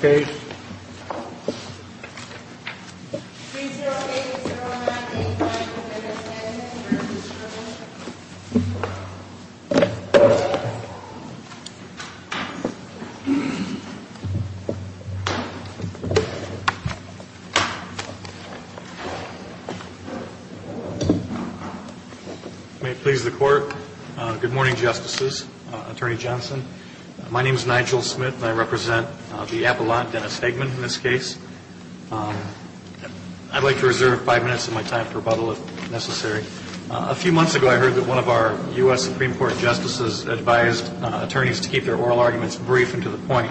May it please the Court. Good morning, Justices, Attorney Johnson. My name is Nigel Smith and I represent the Appellant, Dennis Hageman, in this case. I'd like to reserve five minutes of my time for rebuttal if necessary. A few months ago, I heard that one of our U.S. Supreme Court Justices advised attorneys to keep their oral arguments brief and to the point.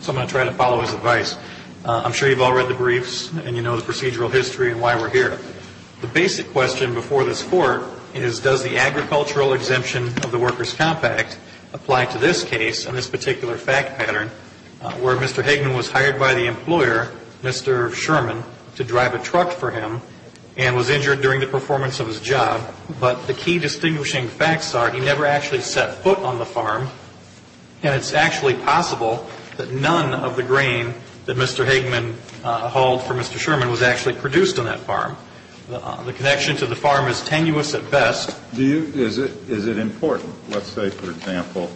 So I'm going to try to follow his advice. I'm sure you've all read the briefs, and you know the procedural history and why we're here. The basic question before this Court is, does the agricultural exemption of the Workers' Comp Act apply to this case and this particular fact pattern where Mr. Hageman was hired by the employer, Mr. Sherman, to drive a truck for him and was injured during the performance of his job, but the key distinguishing facts are he never actually set foot on the farm, and it's actually possible that none of the grain that Mr. Hageman hauled for Mr. Sherman was actually produced on that farm. The connection to the farm is tenuous at best. Do you, is it, is it important, let's say, for example,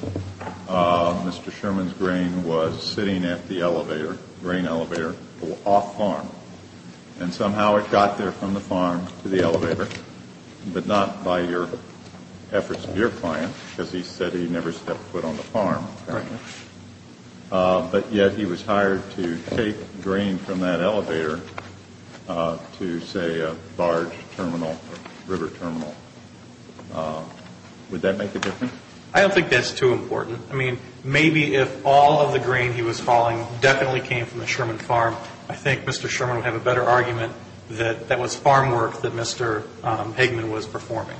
Mr. Sherman's grain was sitting at the elevator, grain elevator, off farm, and somehow it got there from the farm to the elevator, but not by your efforts of your client, because he said he never set foot on the farm, but yet he was hired to take grain from that elevator to, say, a barge terminal or river terminal. Would that make a difference? I don't think that's too important. I mean, maybe if all of the grain he was hauling definitely came from the Sherman farm, I think Mr. Sherman would have a better argument that that was farm work that Mr. Hageman was performing.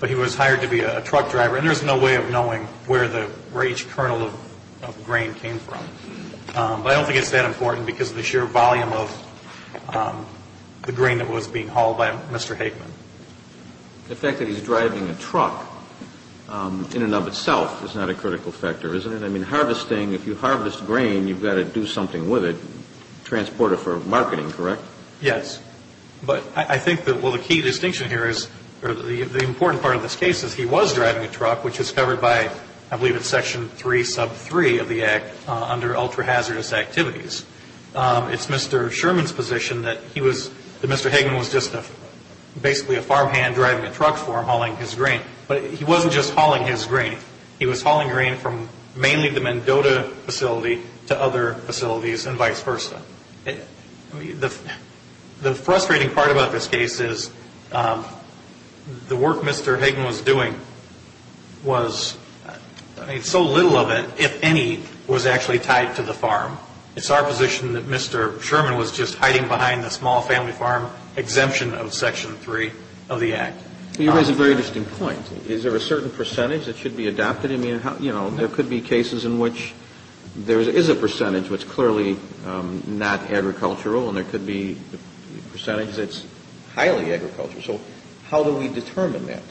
But he was hired to be a truck driver, and there's no way of knowing where the, where each kernel of grain came from. But I don't think it's that important because of the sheer volume of the grain that was being hauled by Mr. Hageman. The fact that he's driving a truck in and of itself is not a critical factor, is it? I mean, harvesting, if you harvest grain, you've got to do something with it, transport it for marketing, correct? Yes. But I think that, well, the key distinction here is, or the important part of this case is he was driving a truck, which is covered by, I believe it's section 3 sub 3 of the Act under ultra-hazardous activities. It's Mr. Sherman's position that he was, that Mr. Sherman was basically a farmhand driving a truck for him hauling his grain. But he wasn't just hauling his grain. He was hauling grain from mainly the Mendota facility to other facilities and vice versa. The frustrating part about this case is the work Mr. Hageman was doing was, so little of it, if any, was actually tied to the farm. It's our position that Mr. Sherman was just section 3 of the Act. You raise a very interesting point. Is there a certain percentage that should be adopted? I mean, you know, there could be cases in which there is a percentage that's clearly not agricultural and there could be a percentage that's highly agricultural. So how do we determine that?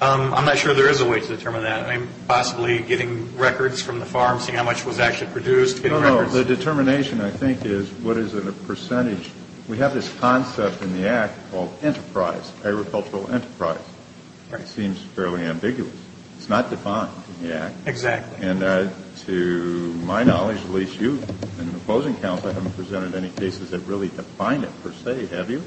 I'm not sure there is a way to determine that. I mean, possibly getting records from the farm, seeing how much was actually produced, getting records. No, no. The determination, I think, is what is the percentage. We have this concept in the Act called enterprise, agricultural enterprise. It seems fairly ambiguous. It's not defined in the Act. Exactly. And to my knowledge, at least you in opposing counsel, haven't presented any cases that really define it, per se, have you?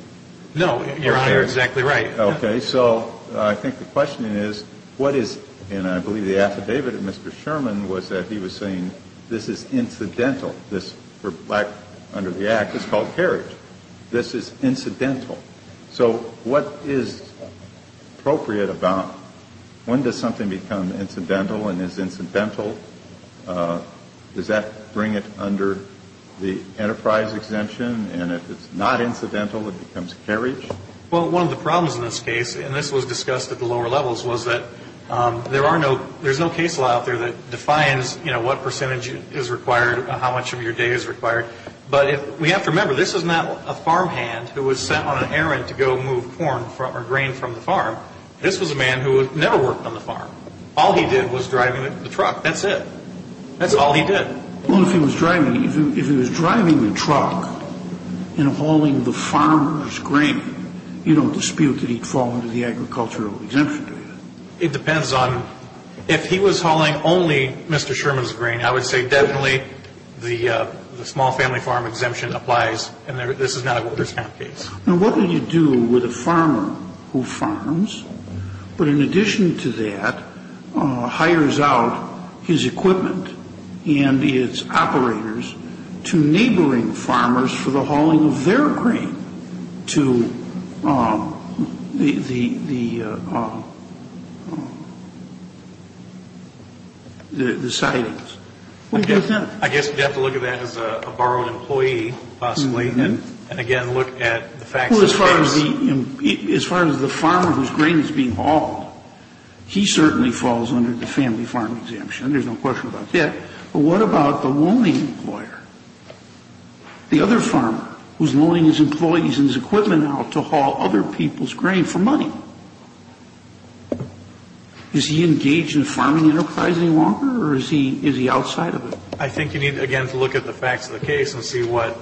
No, Your Honor, you're exactly right. Okay. So I think the question is, what is, and I believe the affidavit of Mr. Sherman was that he was saying this is incidental, this, under the Act, it's called carriage. This is incidental. So what is appropriate about, when does something become incidental and is incidental? Does that bring it under the enterprise exemption? And if it's not incidental, it becomes carriage? Well, one of the problems in this case, and this was discussed at the lower levels, was that there are no, there's no case law out there that defines, you know, what percentage is required, how much of your day is required. But we have to remember, this is not a farmhand who was sent on an errand to go move corn or grain from the farm. This was a man who had never worked on the farm. All he did was driving the truck. That's it. That's all he did. Well, if he was driving, if he was driving the truck and hauling the farmer's grain, you don't dispute that he'd fall under the agricultural exemption, do you? It depends on, if he was hauling only Mr. Sherman's grain, I would say definitely the small family farm exemption applies, and this is not a workers' camp case. Now, what do you do with a farmer who farms, but in addition to that, hires out his equipment and its operators to neighboring farmers for the hauling of their grain to the farmers who are working on the farm? Well, I guess you have to look at that as a borrowed employee, possibly, and again, look at the facts of the case. Well, as far as the farmer whose grain is being hauled, he certainly falls under the family farm exemption. There's no question about that. But what about the loaning employer, the other farmer who's loaning his employees and his equipment out to haul other people's grain? Is he engaged in farming enterprise any longer, or is he outside of it? I think you need, again, to look at the facts of the case and see what,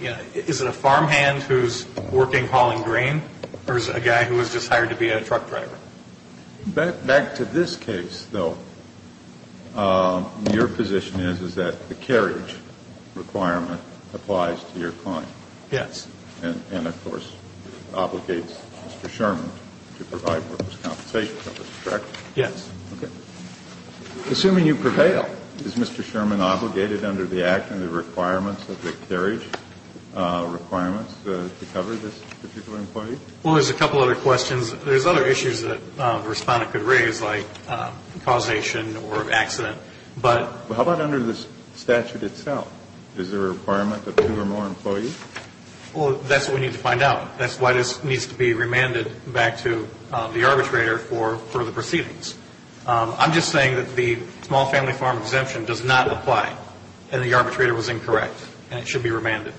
you know, is it a farmhand who's working, hauling grain, or is it a guy who was just hired to be a truck driver? Back to this case, though, your position is, is that the carriage requirement applies to your client. Yes. And, of course, obligates Mr. Sherman to provide workers' compensation, correct? Yes. Okay. Assuming you prevail, is Mr. Sherman obligated under the act and the requirements of the carriage requirements to cover this particular employee? Well, there's a couple other questions. There's other issues that the Respondent could raise like causation or accident, but Well, how about under the statute itself? Is there a requirement of two or more employees? Well, that's what we need to find out. That's why this needs to be remanded back to the arbitrator for the proceedings. I'm just saying that the small family farm exemption does not apply, and the arbitrator was incorrect, and it should be remanded.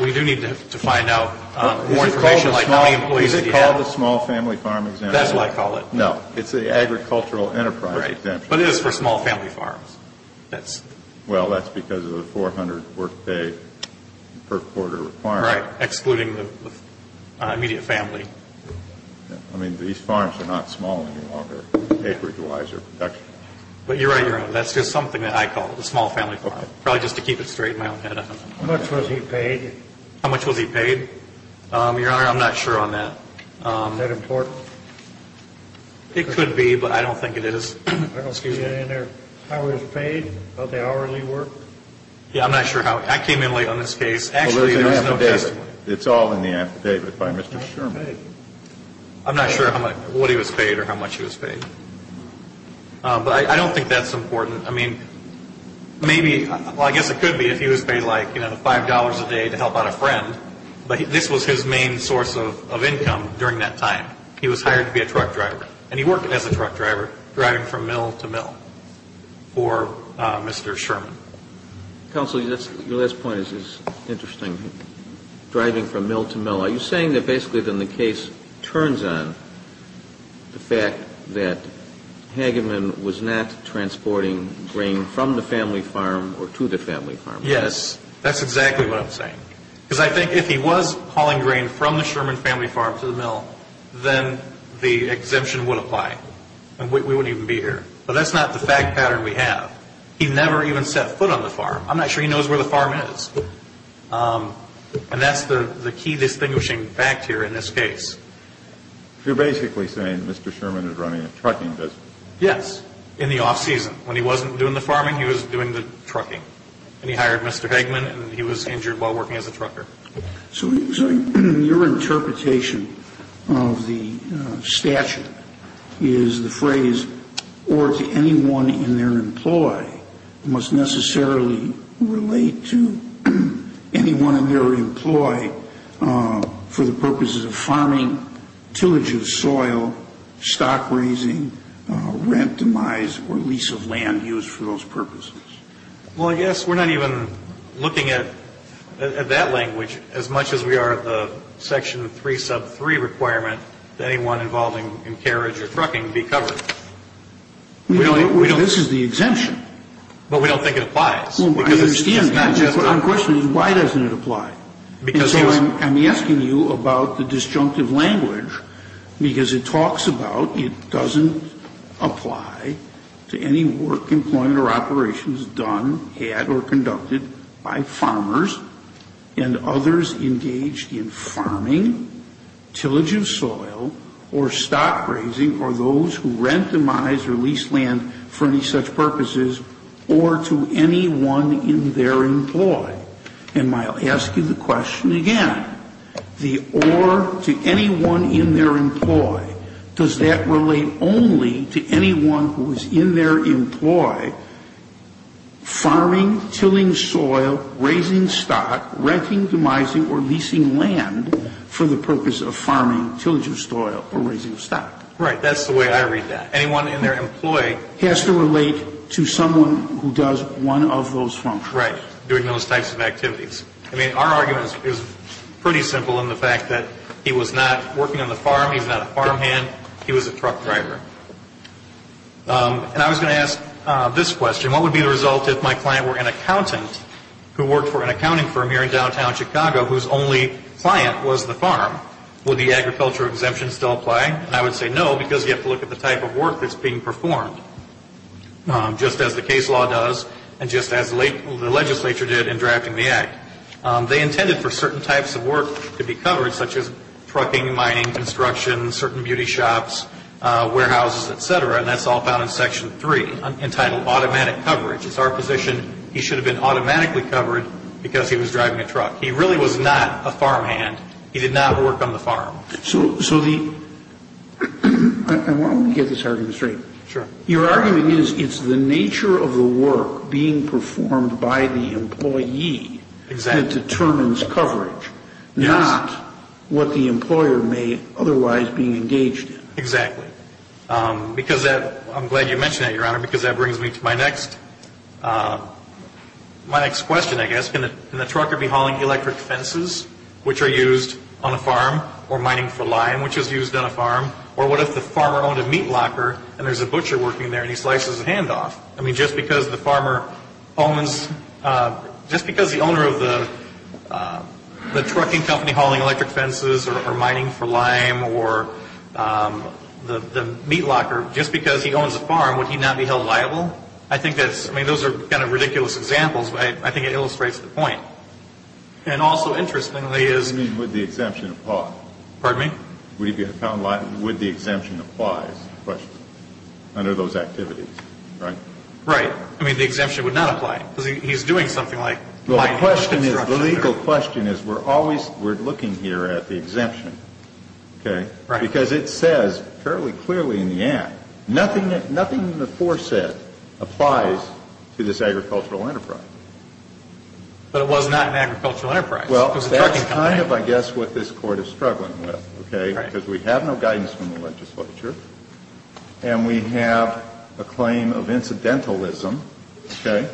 We do need to find out more information like how many employees did he have? Is it called the small family farm exemption? That's what I call it. No. It's the agricultural enterprise exemption. Right. But it is for small family farms. That's Well, that's because of the 400 workday per quarter requirement. Right. Excluding the immediate family. I mean, these farms are not small any longer acreage-wise or production-wise. But you're right, Your Honor. That's just something that I call the small family farm. Probably just to keep it straight in my own head. How much was he paid? How much was he paid? Your Honor, I'm not sure on that. Is that important? It could be, but I don't think it is. Excuse me. How he was paid? About the hourly work? Yeah, I'm not sure how. I came in late on this case. Well, there's an affidavit. It's all in the affidavit by Mr. Sherman. I'm not sure what he was paid or how much he was paid. But I don't think that's important. I mean, maybe, well, I guess it could be if he was paid, like, you know, $5 a day to help out a friend. But this was his main source of income during that time. He was hired to be a truck driver. And he worked as a truck driver, driving from mill to mill for Mr. Sherman. Counsel, your last point is interesting. Driving from mill to mill. Are you saying that basically then the case turns on the fact that Hageman was not transporting grain from the family farm or to the family farm? Yes. That's exactly what I'm saying. Because I think if he was hauling grain from the Sherman family farm to the mill, then the exemption would apply. And we wouldn't even be here. But that's not the fact pattern we have. He never even set foot on the farm. I'm not sure he knows where the farm is. And that's the key distinguishing fact here in this case. So you're basically saying Mr. Sherman is running a trucking business? Yes. In the off season. When he wasn't doing the farming, he was doing the trucking. And he hired Mr. Hageman and he was injured while working as a trucker. So your interpretation of the statute is the phrase, or to anyone in their employ must necessarily relate to anyone in their employ for the purposes of farming, tillage of soil, stock raising, rent demise, or lease of land used for those purposes. Well, I guess we're not even looking at that language, as much as we are at the section 3 sub 3 requirement that anyone involved in carriage or trucking be covered. This is the exemption. But we don't think it applies. My question is, why doesn't it apply? And so I'm asking you about the disjunctive language, because it talks about it doesn't apply to any work, employment, or operations done, had, or conducted by farmers and others engaged in farming, tillage of soil, or stock raising, or those who rent demise or lease land for any such purposes, or to anyone in their employ. And I'll ask you the question again. The or to anyone in their employ, does that relate only to anyone who is in their employ, farming, tilling soil, raising stock, renting, demising, or leasing land for the purpose of farming, tillage of soil, or raising stock? Right. That's the way I read that. Anyone in their employ has to relate to someone who does one of those functions. Doing those types of activities. I mean, our argument is pretty simple in the fact that he was not working on the farm. He's not a farmhand. He was a truck driver. And I was going to ask this question. What would be the result if my client were an accountant who worked for an accounting firm here in downtown Chicago whose only client was the farm? Would the agriculture exemption still apply? And I would say no, because you have to look at the type of work that's being performed, just as the case law does, and just as the legislature did in drafting the Act. They intended for certain types of work to be covered, such as trucking, mining, construction, certain beauty shops, warehouses, etc., and that's all found in Section 3, entitled Automatic Coverage. It's our position he should have been automatically covered because he was driving a truck. He really was not a farmhand. He did not work on the farm. So the – and why don't we get this argument straight? Sure. Your argument is it's the nature of the work being performed by the employee that determines coverage, not what the employer may otherwise be engaged in. Exactly. Because that – I'm glad you mentioned that, Your Honor, because that brings me to my next question, I guess. Can the trucker be hauling electric fences, which are used on a farm, or mining for lime, which is used on a farm? Or what if the farmer owned a meat locker and there's a butcher working there and he slices his hand off? I mean, just because the farmer owns – just because the owner of the trucking company hauling electric fences or mining for lime or the meat locker, just because he owns a farm, would he not be held liable? I think that's – I mean, those are kind of ridiculous examples, but I think it illustrates the point. And also, interestingly, is – You mean, would the exemption apply? Pardon me? Would he be held liable? Would the exemption apply under those activities, right? Right. I mean, the exemption would not apply. Because he's doing something like – Well, the question is –– mining construction or – The legal question is we're always – we're looking here at the exemption, okay? Right. Because it says fairly clearly in the Act, nothing in the foresaid applies to this agricultural enterprise. But it was not an agricultural enterprise. Well, that's kind of, I guess, what this Court is struggling with. Because we have no guidance from the legislature and we have a claim of incidentalism, okay?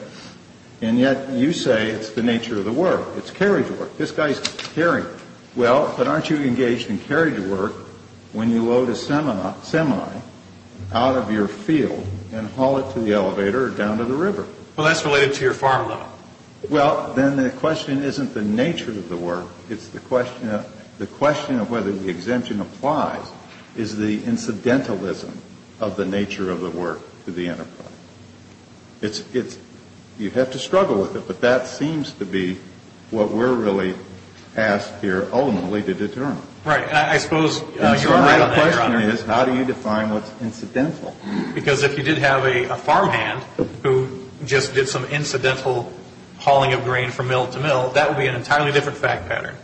And yet you say it's the nature of the work. It's carriage work. This guy's carrying. Well, but aren't you engaged in carriage work when you load a semi out of your field and haul it to the elevator or down to the river? Well, that's related to your farm, though. Well, then the question isn't the nature of the work. It's the question of whether the exemption applies is the incidentalism of the nature of the work to the enterprise. It's – you have to struggle with it. But that seems to be what we're really asked here ultimately to determine. Right. And I suppose you're right on that, Your Honor. The question is how do you define what's incidental? Because if you did have a farmhand who just did some incidental hauling of grain from mill to mill, that would be an entirely different fact pattern.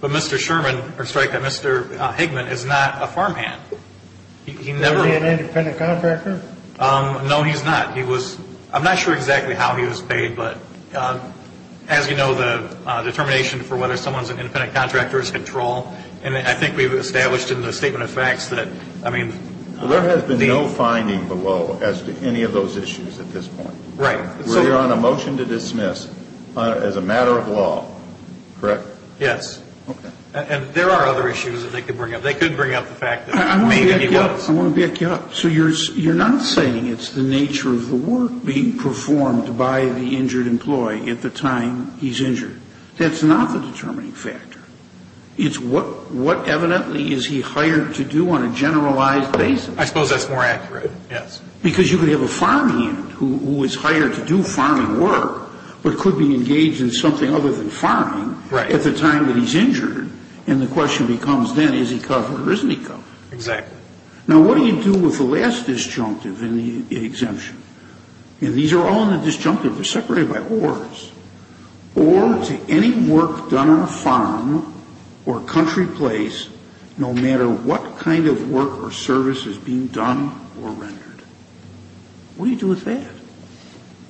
But Mr. Sherman – or strike that – Mr. Hickman is not a farmhand. He never – Is he an independent contractor? No, he's not. He was – I'm not sure exactly how he was paid, but as you know, the determination for whether someone's an independent contractor is control. And I think we've established in the Statement of Facts that, I mean – There has been no finding below as to any of those issues at this point. Right. We're on a motion to dismiss as a matter of law, correct? Yes. Okay. And there are other issues that they could bring up. They could bring up the fact that maybe he was. I want to back you up. So you're not saying it's the nature of the work being performed by the injured employee at the time he's injured. That's not the determining factor. It's what evidently is he hired to do on a generalized basis. I suppose that's more accurate, yes. Because you could have a farmhand who is hired to do farming work, but could be engaged in something other than farming at the time that he's injured, and the question becomes then, is he covered or isn't he covered? Exactly. Now, what do you do with the last disjunctive in the exemption? And these are all in the disjunctive. They're separated by ORs. OR to any work done on a farm or country place, no matter what kind of work or service is being done or rendered. What do you do with that?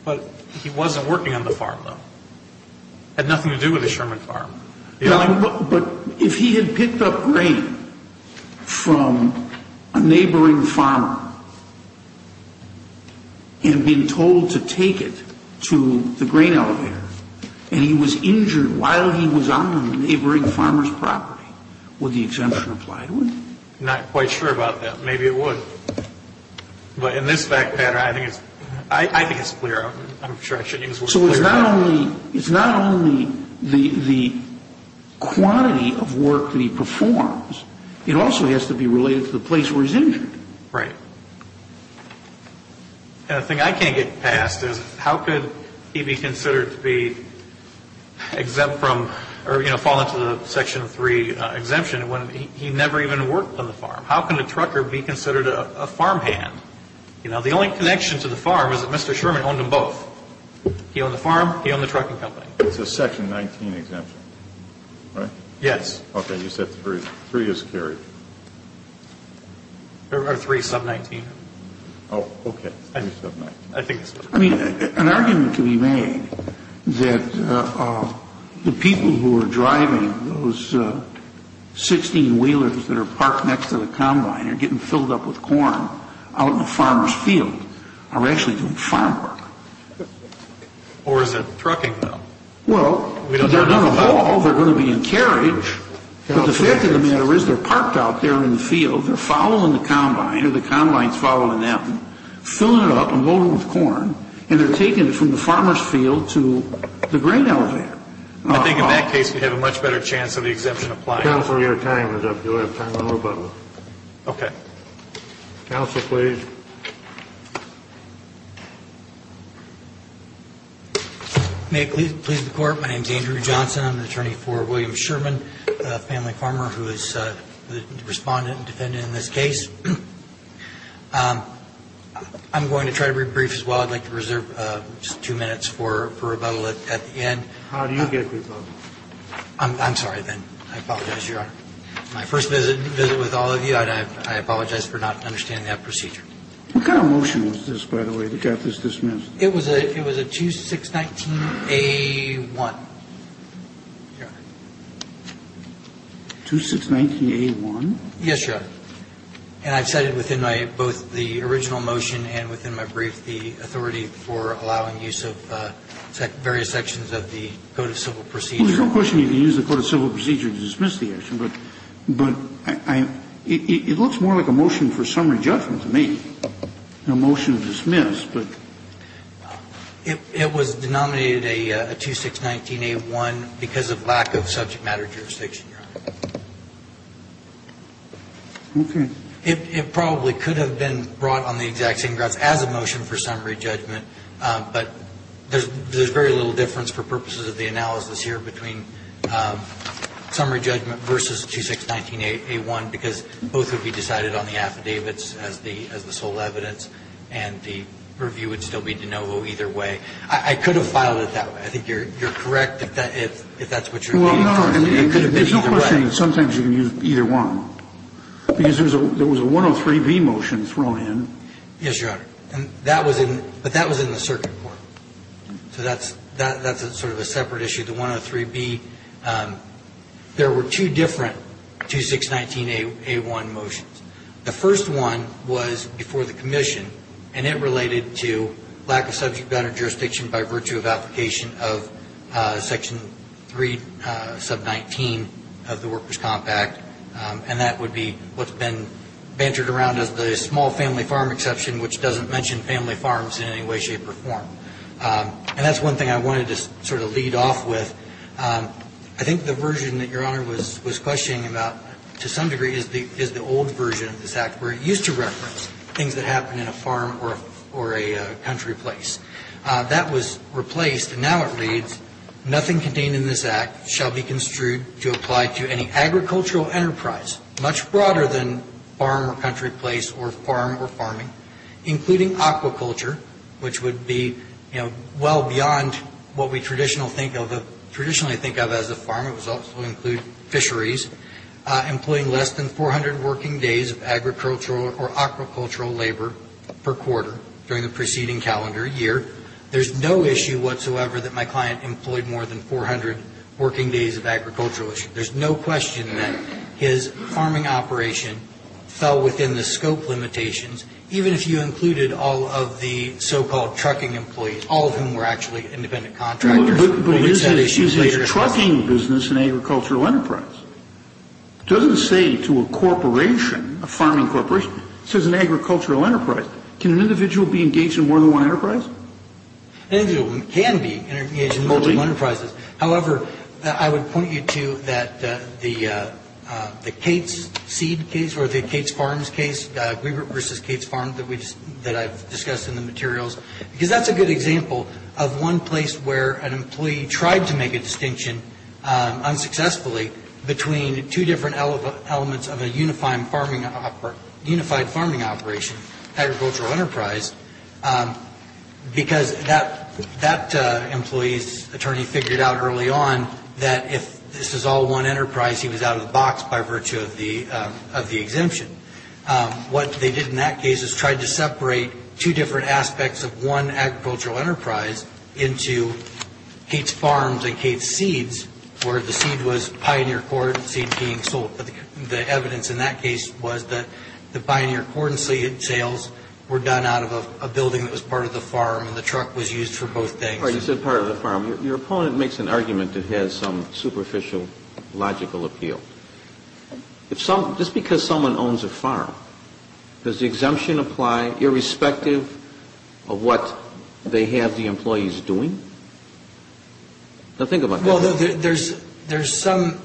But he wasn't working on the farm, though. It had nothing to do with a Sherman farm. But if he had picked up grain from a neighboring farmer and been told to take it to the grain elevator, and he was injured while he was on the neighboring farmer's property, would the exemption apply to him? Not quite sure about that. Maybe it would. But in this fact pattern, I think it's clear. I'm sure I shouldn't use the word clear. So it's not only the quantity of work that he performs, it also has to be related to the place where he's injured. Right. And the thing I can't get past is, how could he be considered to be exempt from or, you know, fall into the Section 3 exemption when he never even worked on the farm? How can a trucker be considered a farmhand? You know, the only connection to the farm is that Mr. Sherman owned them both. He owned the farm. He owned the trucking company. It's a Section 19 exemption, right? Yes. Okay. You said 3 is carried. Or 3 sub-19. Oh, okay. 3 sub-19. I think that's right. I mean, an argument can be made that the people who are driving those 16 wheelers that are parked next to the combine are getting filled up with corn out in the farmer's field are actually doing farm work. Or is it trucking, though? Well, they're going to haul. They're going to be in carriage. But the fact of the matter is, they're parked out there in the field. They're following the combine, or the combine's following them, filling it up and loading it with corn, and they're taking it from the farmer's field to the grain elevator. I think in that case, we have a much better chance of the exemption applying. Counsel, your time is up. You'll have time for one more button. Okay. Counsel, please. May it please the Court. My name is Andrew Johnson. I'm the attorney for William Sherman, a family farmer, who is the respondent and defendant in this case. I'm going to try to be brief as well. I'd like to reserve just two minutes for rebuttal at the end. How do you get rebuttal? I'm sorry, then. I apologize, Your Honor. My first visit with all of you, I apologize for not understanding that procedure. What kind of motion was this, by the way, that got this dismissed? It was a 2619A1. Your Honor. 2619A1? Yes, Your Honor. And I've cited within both the original motion and within my brief the authority for allowing use of various sections of the Code of Civil Procedure. Well, there's no question you can use the Code of Civil Procedure to dismiss the action. But it looks more like a motion for summary judgment to me than a motion to dismiss. It was denominated a 2619A1 because of lack of subject matter jurisdiction, Your Honor. It probably could have been brought on the exact same grounds as a motion for summary judgment, but there's very little difference for purposes of the analysis here between summary judgment versus 2619A1 because both would be decided on the affidavits as the sole evidence, and the review would still be de novo either way. I could have filed it that way. I think you're correct if that's what you're aiming for. There's no question sometimes you can use either one. Because there was a 103B motion thrown in. Yes, Your Honor. But that was in the circuit court. So that's sort of a separate issue. The 103B, there were two different 2619A1 motions. The first one was before the commission, and it related to lack of subject matter jurisdiction by virtue of application of Section 3 sub 19 of the Workers' Comp Act. And that would be what's been bantered around as the small family farm exception, which doesn't mention family farms in any way, shape, or form. And that's one thing I wanted to sort of lead off with. I think the version that Your Honor was questioning about to some degree is the old version of this Act where it used to reference things that happened in a farm or a country place. That was replaced, and now it reads, nothing contained in this Act shall be construed to apply to any agricultural enterprise, much broader than farm or country place or farm or farming, including aquaculture, which would be well beyond what we traditionally think of as a farm. It would also include fisheries, employing less than 400 working days of agricultural or aquacultural labor per quarter during the preceding calendar year. There's no issue whatsoever that my client employed more than 400 working days of agricultural issue. There's no question that his farming operation fell within the scope limitations, even if you included all of the so-called trucking employees, all of whom were actually independent contractors. But is his trucking business an agricultural enterprise? It doesn't say to a corporation, a farming corporation, it says an agricultural enterprise. Can an individual be engaged in more than one enterprise? An individual can be engaged in more than one enterprise. However, I would point you to the Cates Seed case or the Cates Farms case, Weaver v. Cates Farms that I've discussed in the materials, because that's a good example of one place where an employee tried to make a distinction, unsuccessfully, between two different elements of a unified farming operation, agricultural enterprise, because that employee's attorney figured out early on that if this is all one enterprise, he was out of the box by virtue of the exemption. What they did in that case is tried to separate two different aspects of one agricultural enterprise into Cates Farms and Cates Seeds, where the seed was Pioneer Cored Seed being sold. The evidence in that case was that the Pioneer Cored Seed sales were done out of a building that was part of the farm, and the truck was used for both things. All right, you said part of the farm. Your opponent makes an argument that has some superficial logical appeal. Just because someone owns a farm, does the exemption apply irrespective of what they have the employees doing? Now, think about that. Well, there's some,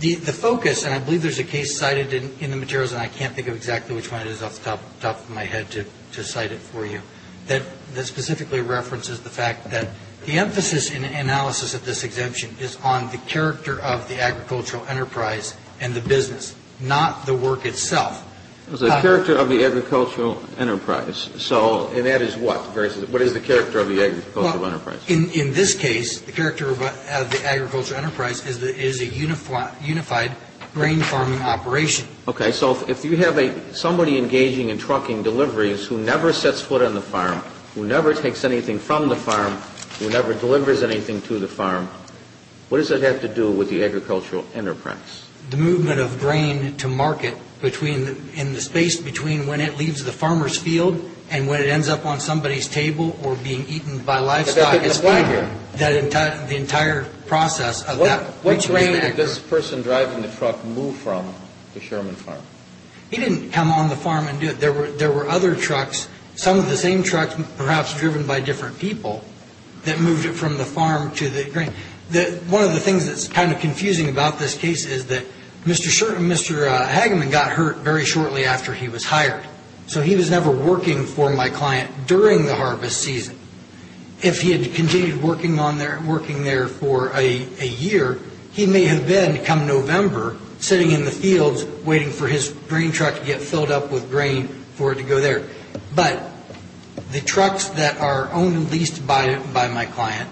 the focus, and I believe there's a case cited in the materials, and I can't think of exactly which one it is off the top of my head to cite it for you, that specifically references the fact that the emphasis in analysis of this exemption is on the character of the agricultural enterprise and the business, not the work itself. The character of the agricultural enterprise. And that is what? What is the character of the agricultural enterprise? In this case, the character of the agricultural enterprise is a unified grain farming operation. Okay, so if you have somebody engaging in trucking deliveries who never sets foot on the farm, who never takes anything from the farm, who never delivers anything to the farm, what does that have to do with the agricultural enterprise? The movement of grain to market in the space between when it leaves the farmer's field and when it ends up on somebody's table or being eaten by livestock. But that doesn't apply here. The entire process of that. Which grain did this person driving the truck move from the Sherman farm? He didn't come on the farm and do it. There were other trucks, some of the same trucks, perhaps driven by different people, that moved it from the farm to the grain. One of the things that's kind of confusing about this case is that Mr. Hageman got hurt very shortly after he was hired. So he was never working for my client during the harvest season. If he had continued working there for a year, he may have been, come November, sitting in the fields waiting for his grain truck to get filled up with grain for it to go there. But the trucks that are owned and leased by my client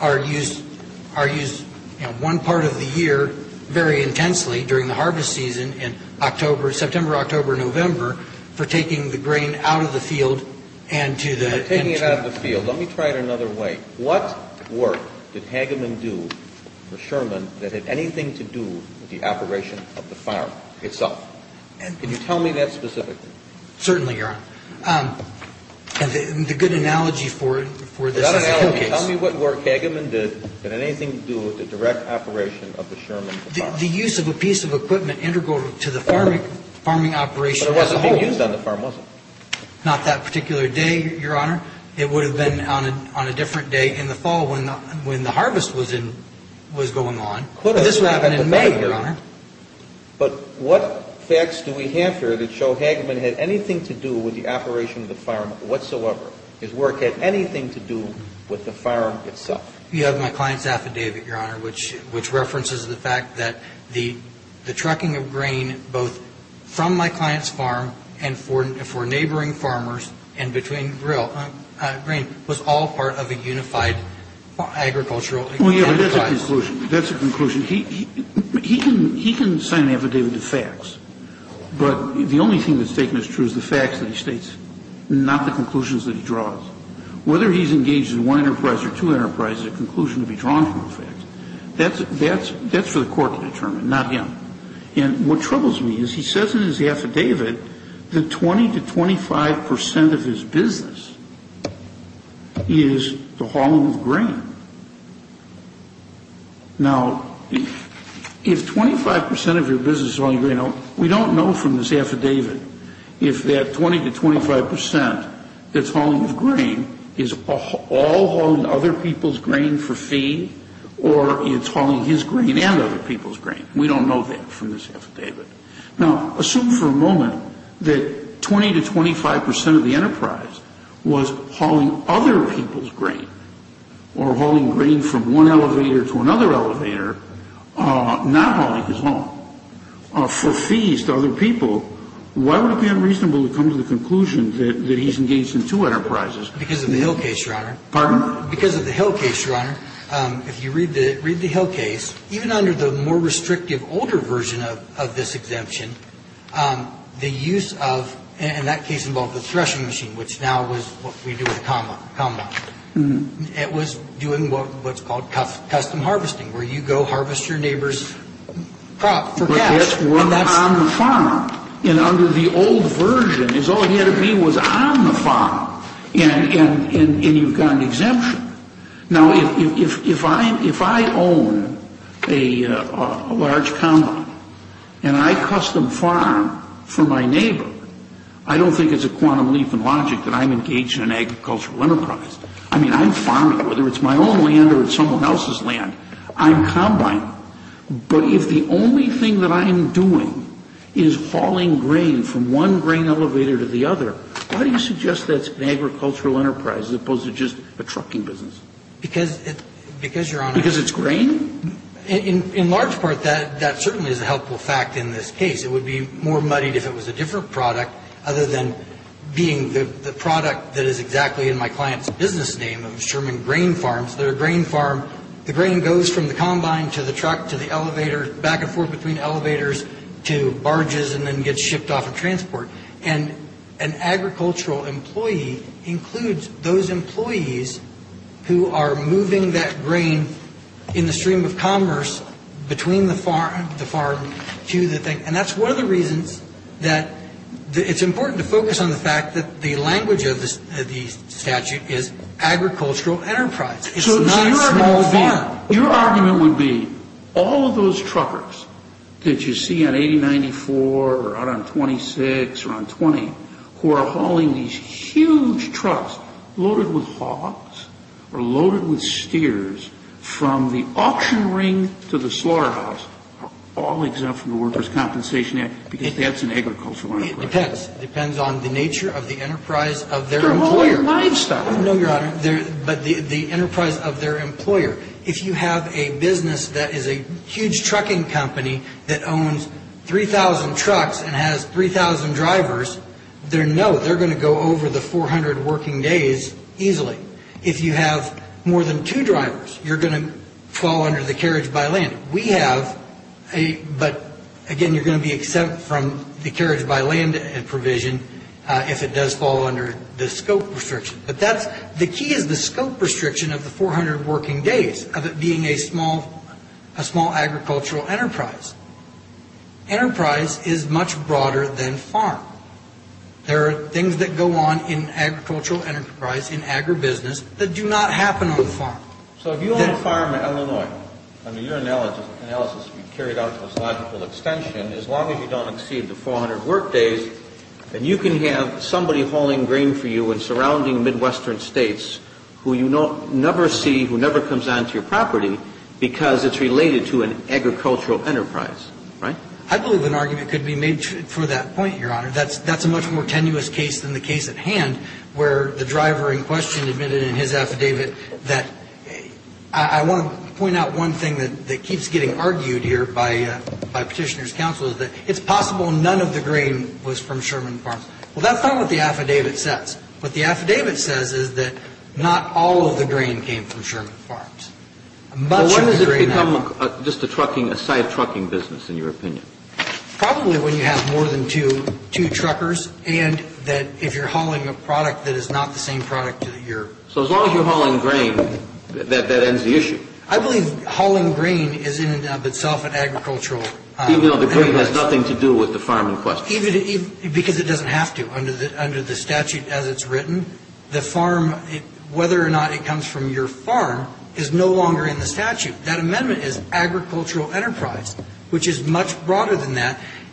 are used one part of the year very intensely during the harvest season, in September, October, November, for taking the grain out of the field and to the... Taking it out of the field. Let me try it another way. What work did Hageman do for Sherman that had anything to do with the operation of the farm itself? Can you tell me that specifically? Certainly, Your Honor. The good analogy for this is... Tell me what work Hageman did that had anything to do with the direct operation of the Sherman farm. The use of a piece of equipment integral to the farming operation... But it wasn't being used on the farm, was it? Not that particular day, Your Honor. It would have been on a different day in the fall when the harvest was going on. This would have happened in May, Your Honor. But what facts do we have here that show Hageman had anything to do with the operation of the farm whatsoever? His work had anything to do with the farm itself? You have my client's affidavit, Your Honor, which references the fact that the trucking of grain both from my client's farm and for neighboring farmers and between grain was all part of a unified agricultural enterprise. That's a conclusion. He can sign an affidavit of facts, but the only thing that's taken as true is the facts that he states, not the conclusions that he draws. Whether he's engaged in one enterprise or two enterprises, the conclusion will be drawn from the facts. That's for the court to determine, not him. And what troubles me is he says in his affidavit that 20 to 25 percent of his business is the hauling of grain. Now, if 25 percent of your business is hauling grain, we don't know from this affidavit if that 20 to 25 percent that's hauling grain is all hauling other people's grain for fee or it's hauling his grain and other people's grain. We don't know that from this affidavit. Now, assume for a moment that 20 to 25 percent of the enterprise was hauling other people's grain or hauling grain from one elevator to another elevator, not hauling his own for fees to other people. Why would it be unreasonable to come to the conclusion that he's engaged in two enterprises? Because of the Hill case, Your Honor. Pardon? Because of the Hill case, Your Honor. If you read the Hill case, even under the more restrictive older version of this exemption, the use of, and that case involved the threshing machine, which now is what we do at the combine. It was doing what's called custom harvesting, where you go harvest your neighbor's crop. For cash. On the farm. And under the old version, his only enemy was on the farm. And you've got an exemption. Now, if I own a large combine and I custom farm for my neighbor, I don't think it's a quantum leap in logic that I'm engaged in an agricultural enterprise. I mean, I'm farming. Whether it's my own land or it's someone else's land, I'm combining. But if the only thing that I'm doing is hauling grain from one grain elevator to the other, why do you suggest that's an agricultural enterprise as opposed to just a trucking business? Because, Your Honor. Because it's grain? In large part, that certainly is a helpful fact in this case. It would be more muddied if it was a different product other than being the product that is exactly in my client's business name, of Sherman Grain Farms. They're a grain farm. The grain goes from the combine to the truck to the elevator, back and forth between elevators to barges, and then gets shipped off in transport. And an agricultural employee includes those employees who are moving that grain in the stream of commerce between the farm to the thing. And that's one of the reasons that it's important to focus on the fact that the language of the statute is agricultural enterprise. It's not a small farm. So your argument would be all of those truckers that you see on 8094 or out on 26 or on 20, who are hauling these huge trucks loaded with hogs or loaded with steers from the auction ring to the slaughterhouse, are all exempt from the Workers' Compensation Act because that's an agricultural enterprise. It depends. It depends on the nature of the enterprise of their employer. They're hauling livestock. No, Your Honor. But the enterprise of their employer. If you have a business that is a huge trucking company that owns 3,000 trucks and has 3,000 drivers, they're going to go over the 400 working days easily. If you have more than two drivers, you're going to fall under the carriage-by-land. We have a, but again, you're going to be exempt from the carriage-by-land provision if it does fall under the scope restriction. But that's, the key is the scope restriction of the 400 working days of it being a small, a small agricultural enterprise. Enterprise is much broader than farm. There are things that go on in agricultural enterprise, in agribusiness, that do not happen on the farm. So if you own a farm in Illinois, I mean, your analysis can be carried out to its logical extension, as long as you don't exceed the 400 work days, then you can have somebody hauling grain for you in surrounding Midwestern states who you never see, who never comes onto your property, because it's related to an agricultural enterprise, right? I believe an argument could be made for that point, Your Honor. That's a much more tenuous case than the case at hand, where the driver in question admitted in his affidavit that, I want to point out one thing that keeps getting argued here by Petitioner's counsel, that it's possible none of the grain was from Sherman Farms. Well, that's not what the affidavit says. What the affidavit says is that not all of the grain came from Sherman Farms. Much of the grain... Well, when does it become just a trucking, a side trucking business, in your opinion? Probably when you have more than two, two truckers, and that if you're hauling a product that is not the same product that you're... So as long as you're hauling grain, that ends the issue. I believe hauling grain is in and of itself an agricultural... Even though the grain has nothing to do with the farm in question. Because it doesn't have to, under the statute as it's written. The farm, whether or not it comes from your farm, is no longer in the statute. That amendment is agricultural enterprise,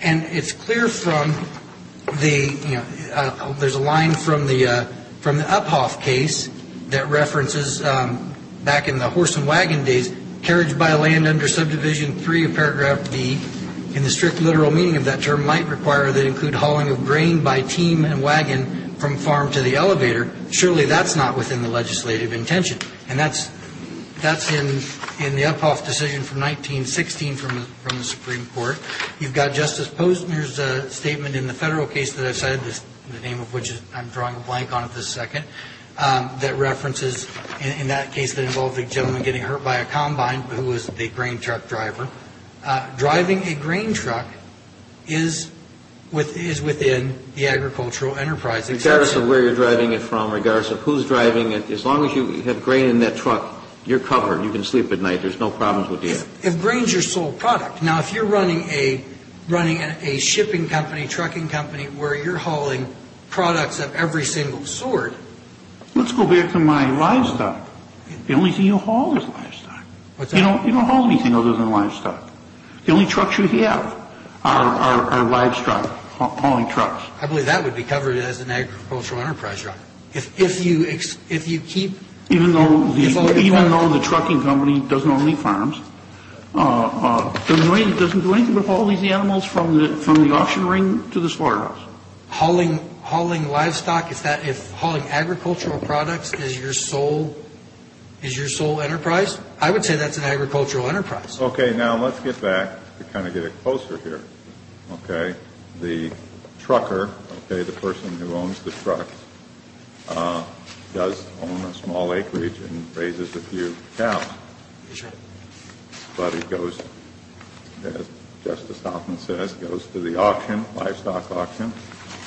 and it's clear from the, you know, that references back in the horse and wagon days, carriage by land under subdivision 3 of paragraph B, in the strict literal meaning of that term, might require that include hauling of grain by team and wagon from farm to the elevator. Surely that's not within the legislative intention. And that's in the Uphoff decision from 1916 from the Supreme Court. You've got Justice Posner's statement in the federal case that I've cited, the name of which I'm drawing a blank on at this second, that references, in that case, that involved a gentleman getting hurt by a combine, who was the grain truck driver. Driving a grain truck is within the agricultural enterprise. Regardless of where you're driving it from, regardless of who's driving it, as long as you have grain in that truck, you're covered. You can sleep at night. There's no problems with that. If grain's your sole product... Now, if you're running a shipping company, trucking company, where you're hauling products of every single sort, let's go back to my livestock. The only thing you haul is livestock. What's that? You don't haul anything other than livestock. The only trucks you have are livestock, hauling trucks. I believe that would be covered as an agricultural enterprise, Your Honor. If you keep... Even though the trucking company doesn't own any farms, doesn't do anything but haul these animals from the auction ring to the slaughterhouse. Hauling livestock, if hauling agricultural products is your sole enterprise, I would say that's an agricultural enterprise. Okay, now let's get back to kind of get it closer here. The trucker, the person who owns the truck, does own a small acreage and raises a few cows. Yes, Your Honor. But he goes, as Justice Hoffman says, goes to the auction, livestock auction,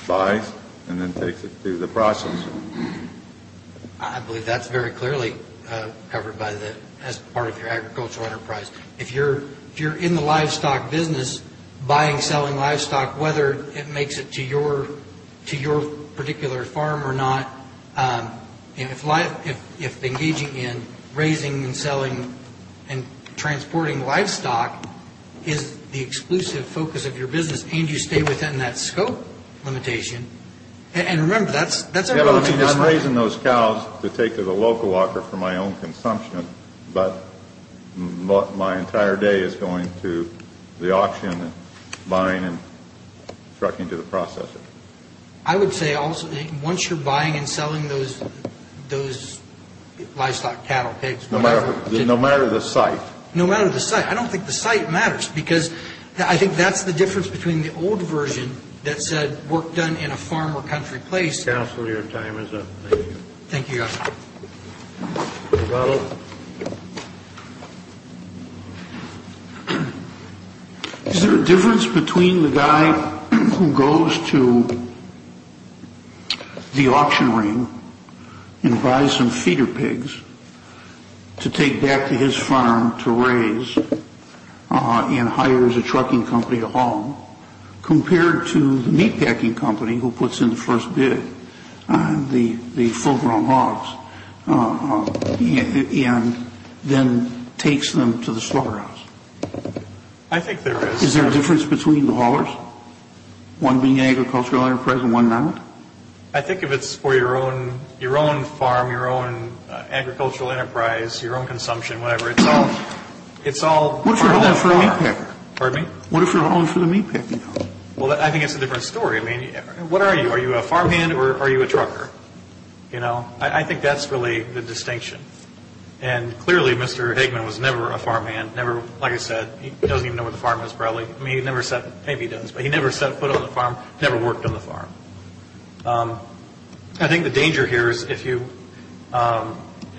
buys, and then takes it through the process. I believe that's very clearly covered as part of your agricultural enterprise. If you're in the livestock business, buying, selling livestock, whether it makes it to your particular farm or not, if engaging in raising and selling and transporting livestock is the exclusive focus of your business, and you stay within that scope limitation, and remember, that's... I'm raising those cows to take to the local auction for my own consumption, but my entire day is going to the auction, buying and trucking to the processor. I would say also, once you're buying and selling those livestock, cattle, pigs, whatever... No matter the site. No matter the site. I don't think the site matters, because I think that's the difference between the old version that said work done in a farm or country place... Counselor, your time is up. Thank you. Thank you, Your Honor. Your Honor. Is there a difference between the guy who goes to the auction ring and buys some feeder pigs to take back to his farm to raise and hires a trucking company to haul, compared to the meatpacking company who puts in the first bid, the full-grown hogs, and then takes them to the slaughterhouse? I think there is. Is there a difference between the haulers? One being an agricultural enterprise and one not? I think if it's for your own farm, your own agricultural enterprise, your own consumption, whatever, it's all... What if you're hauling for the meatpacking company? Well, I think it's a different story. What are you? Are you a farmhand or are you a trucker? I think that's really the distinction. And clearly, Mr. Eggman was never a farmhand. Like I said, he doesn't even know where the farm is, probably. Maybe he does, but he never set foot on the farm, never worked on the farm. I think the danger here is if you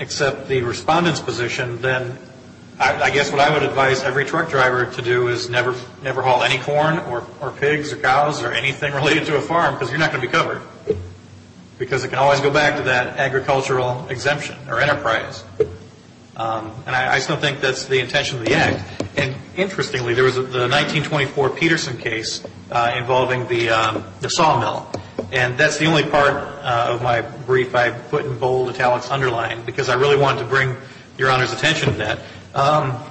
accept the respondent's position, then I guess what I would advise every truck driver to do is never haul any corn or pigs or cows or anything related to a farm because you're not going to be covered because it can always go back to that agricultural exemption or enterprise. And I still think that's the intention of the Act. And interestingly, there was the 1924 Peterson case involving the sawmill. And that's the only part of my brief I put in bold italics underlined because I really wanted to bring Your Honor's attention to that.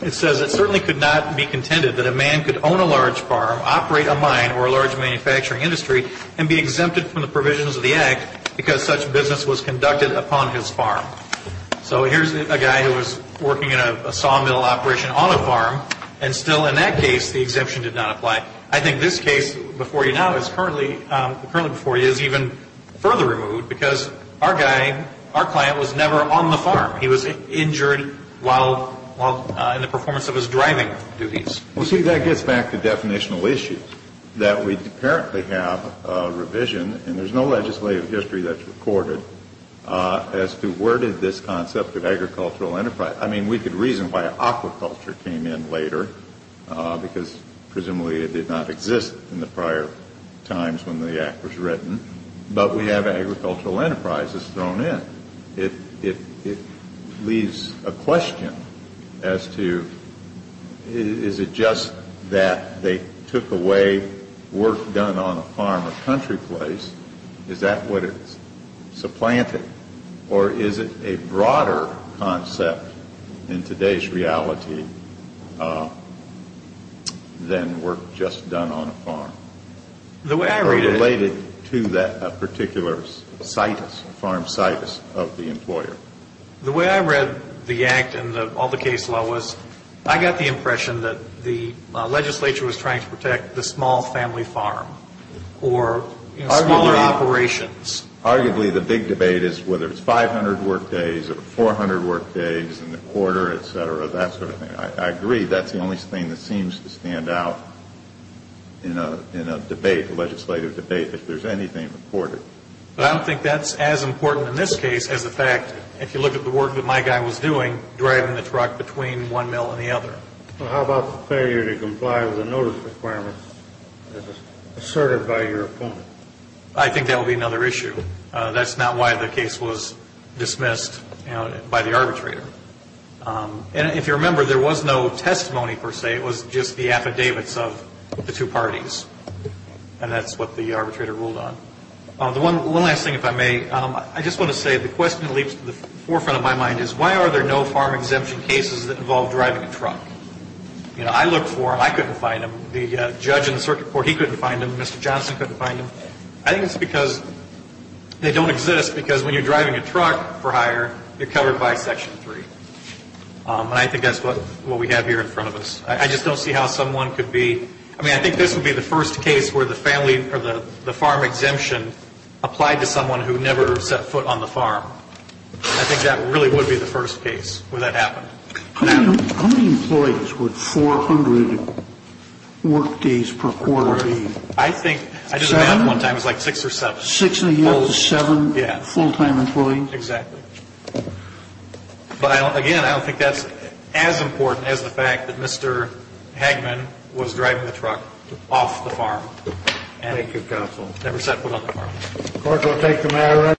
It says, It certainly could not be contended that a man could own a large farm, operate a mine or a large manufacturing industry, and be exempted from the provisions of the Act because such business was conducted upon his farm. So here's a guy who was working in a sawmill operation on a farm, and still in that case the exemption did not apply. I think this case before you now is currently, currently before you is even further removed because our guy, our client, was never on the farm. He was injured while in the performance of his driving duties. Well, see, that gets back to definitional issues. That we apparently have a revision, and there's no legislative history that's recorded, as to where did this concept of agricultural enterprise, I mean, we could reason why aquaculture came in later because presumably it did not exist in the prior times when the Act was written. But we have agricultural enterprises thrown in. It leaves a question as to, is it just that they took away work done on a farm or country place? Is that what it's supplanted? Or is it a broader concept in today's reality than work just done on a farm? The way I read it... Or related to that particular situs, farm situs of the employer. The way I read the Act and all the case law was, I got the impression that the legislature was trying to protect the small family farm or smaller operations. Arguably the big debate is whether it's 500 workdays or 400 workdays in the quarter, et cetera, that sort of thing. I agree, that's the only thing that seems to stand out in a debate, a legislative debate, if there's anything recorded. But I don't think that's as important in this case as the fact, if you look at the work that my guy was doing, driving the truck between one mill and the other. How about the failure to comply with the notice requirements as asserted by your opponent? I think that would be another issue. That's not why the case was dismissed by the arbitrator. And if you remember, there was no testimony per se, it was just the affidavits of the two parties. And that's what the arbitrator ruled on. One last thing, if I may. I just want to say, the question that leaps to the forefront of my mind is, why are there no farm exemption cases that involve driving a truck? You know, I looked for them, I couldn't find them. The judge in the circuit court, he couldn't find them. Mr. Johnson couldn't find them. I think it's because they don't exist, because when you're driving a truck for hire, you're covered by Section 3. And I think that's what we have here in front of us. I just don't see how someone could be – I mean, I think this would be the first case where the farm exemption applied to someone who never set foot on the farm. I think that really would be the first case where that happened. How many employees would 400 work days per quarter need? I think – I did the math one time, it was like six or seven. Six or seven full-time employees? Exactly. But, again, I don't think that's as important as the fact that Mr. Hagman was driving the truck off the farm. Thank you, counsel. Never set foot on the farm.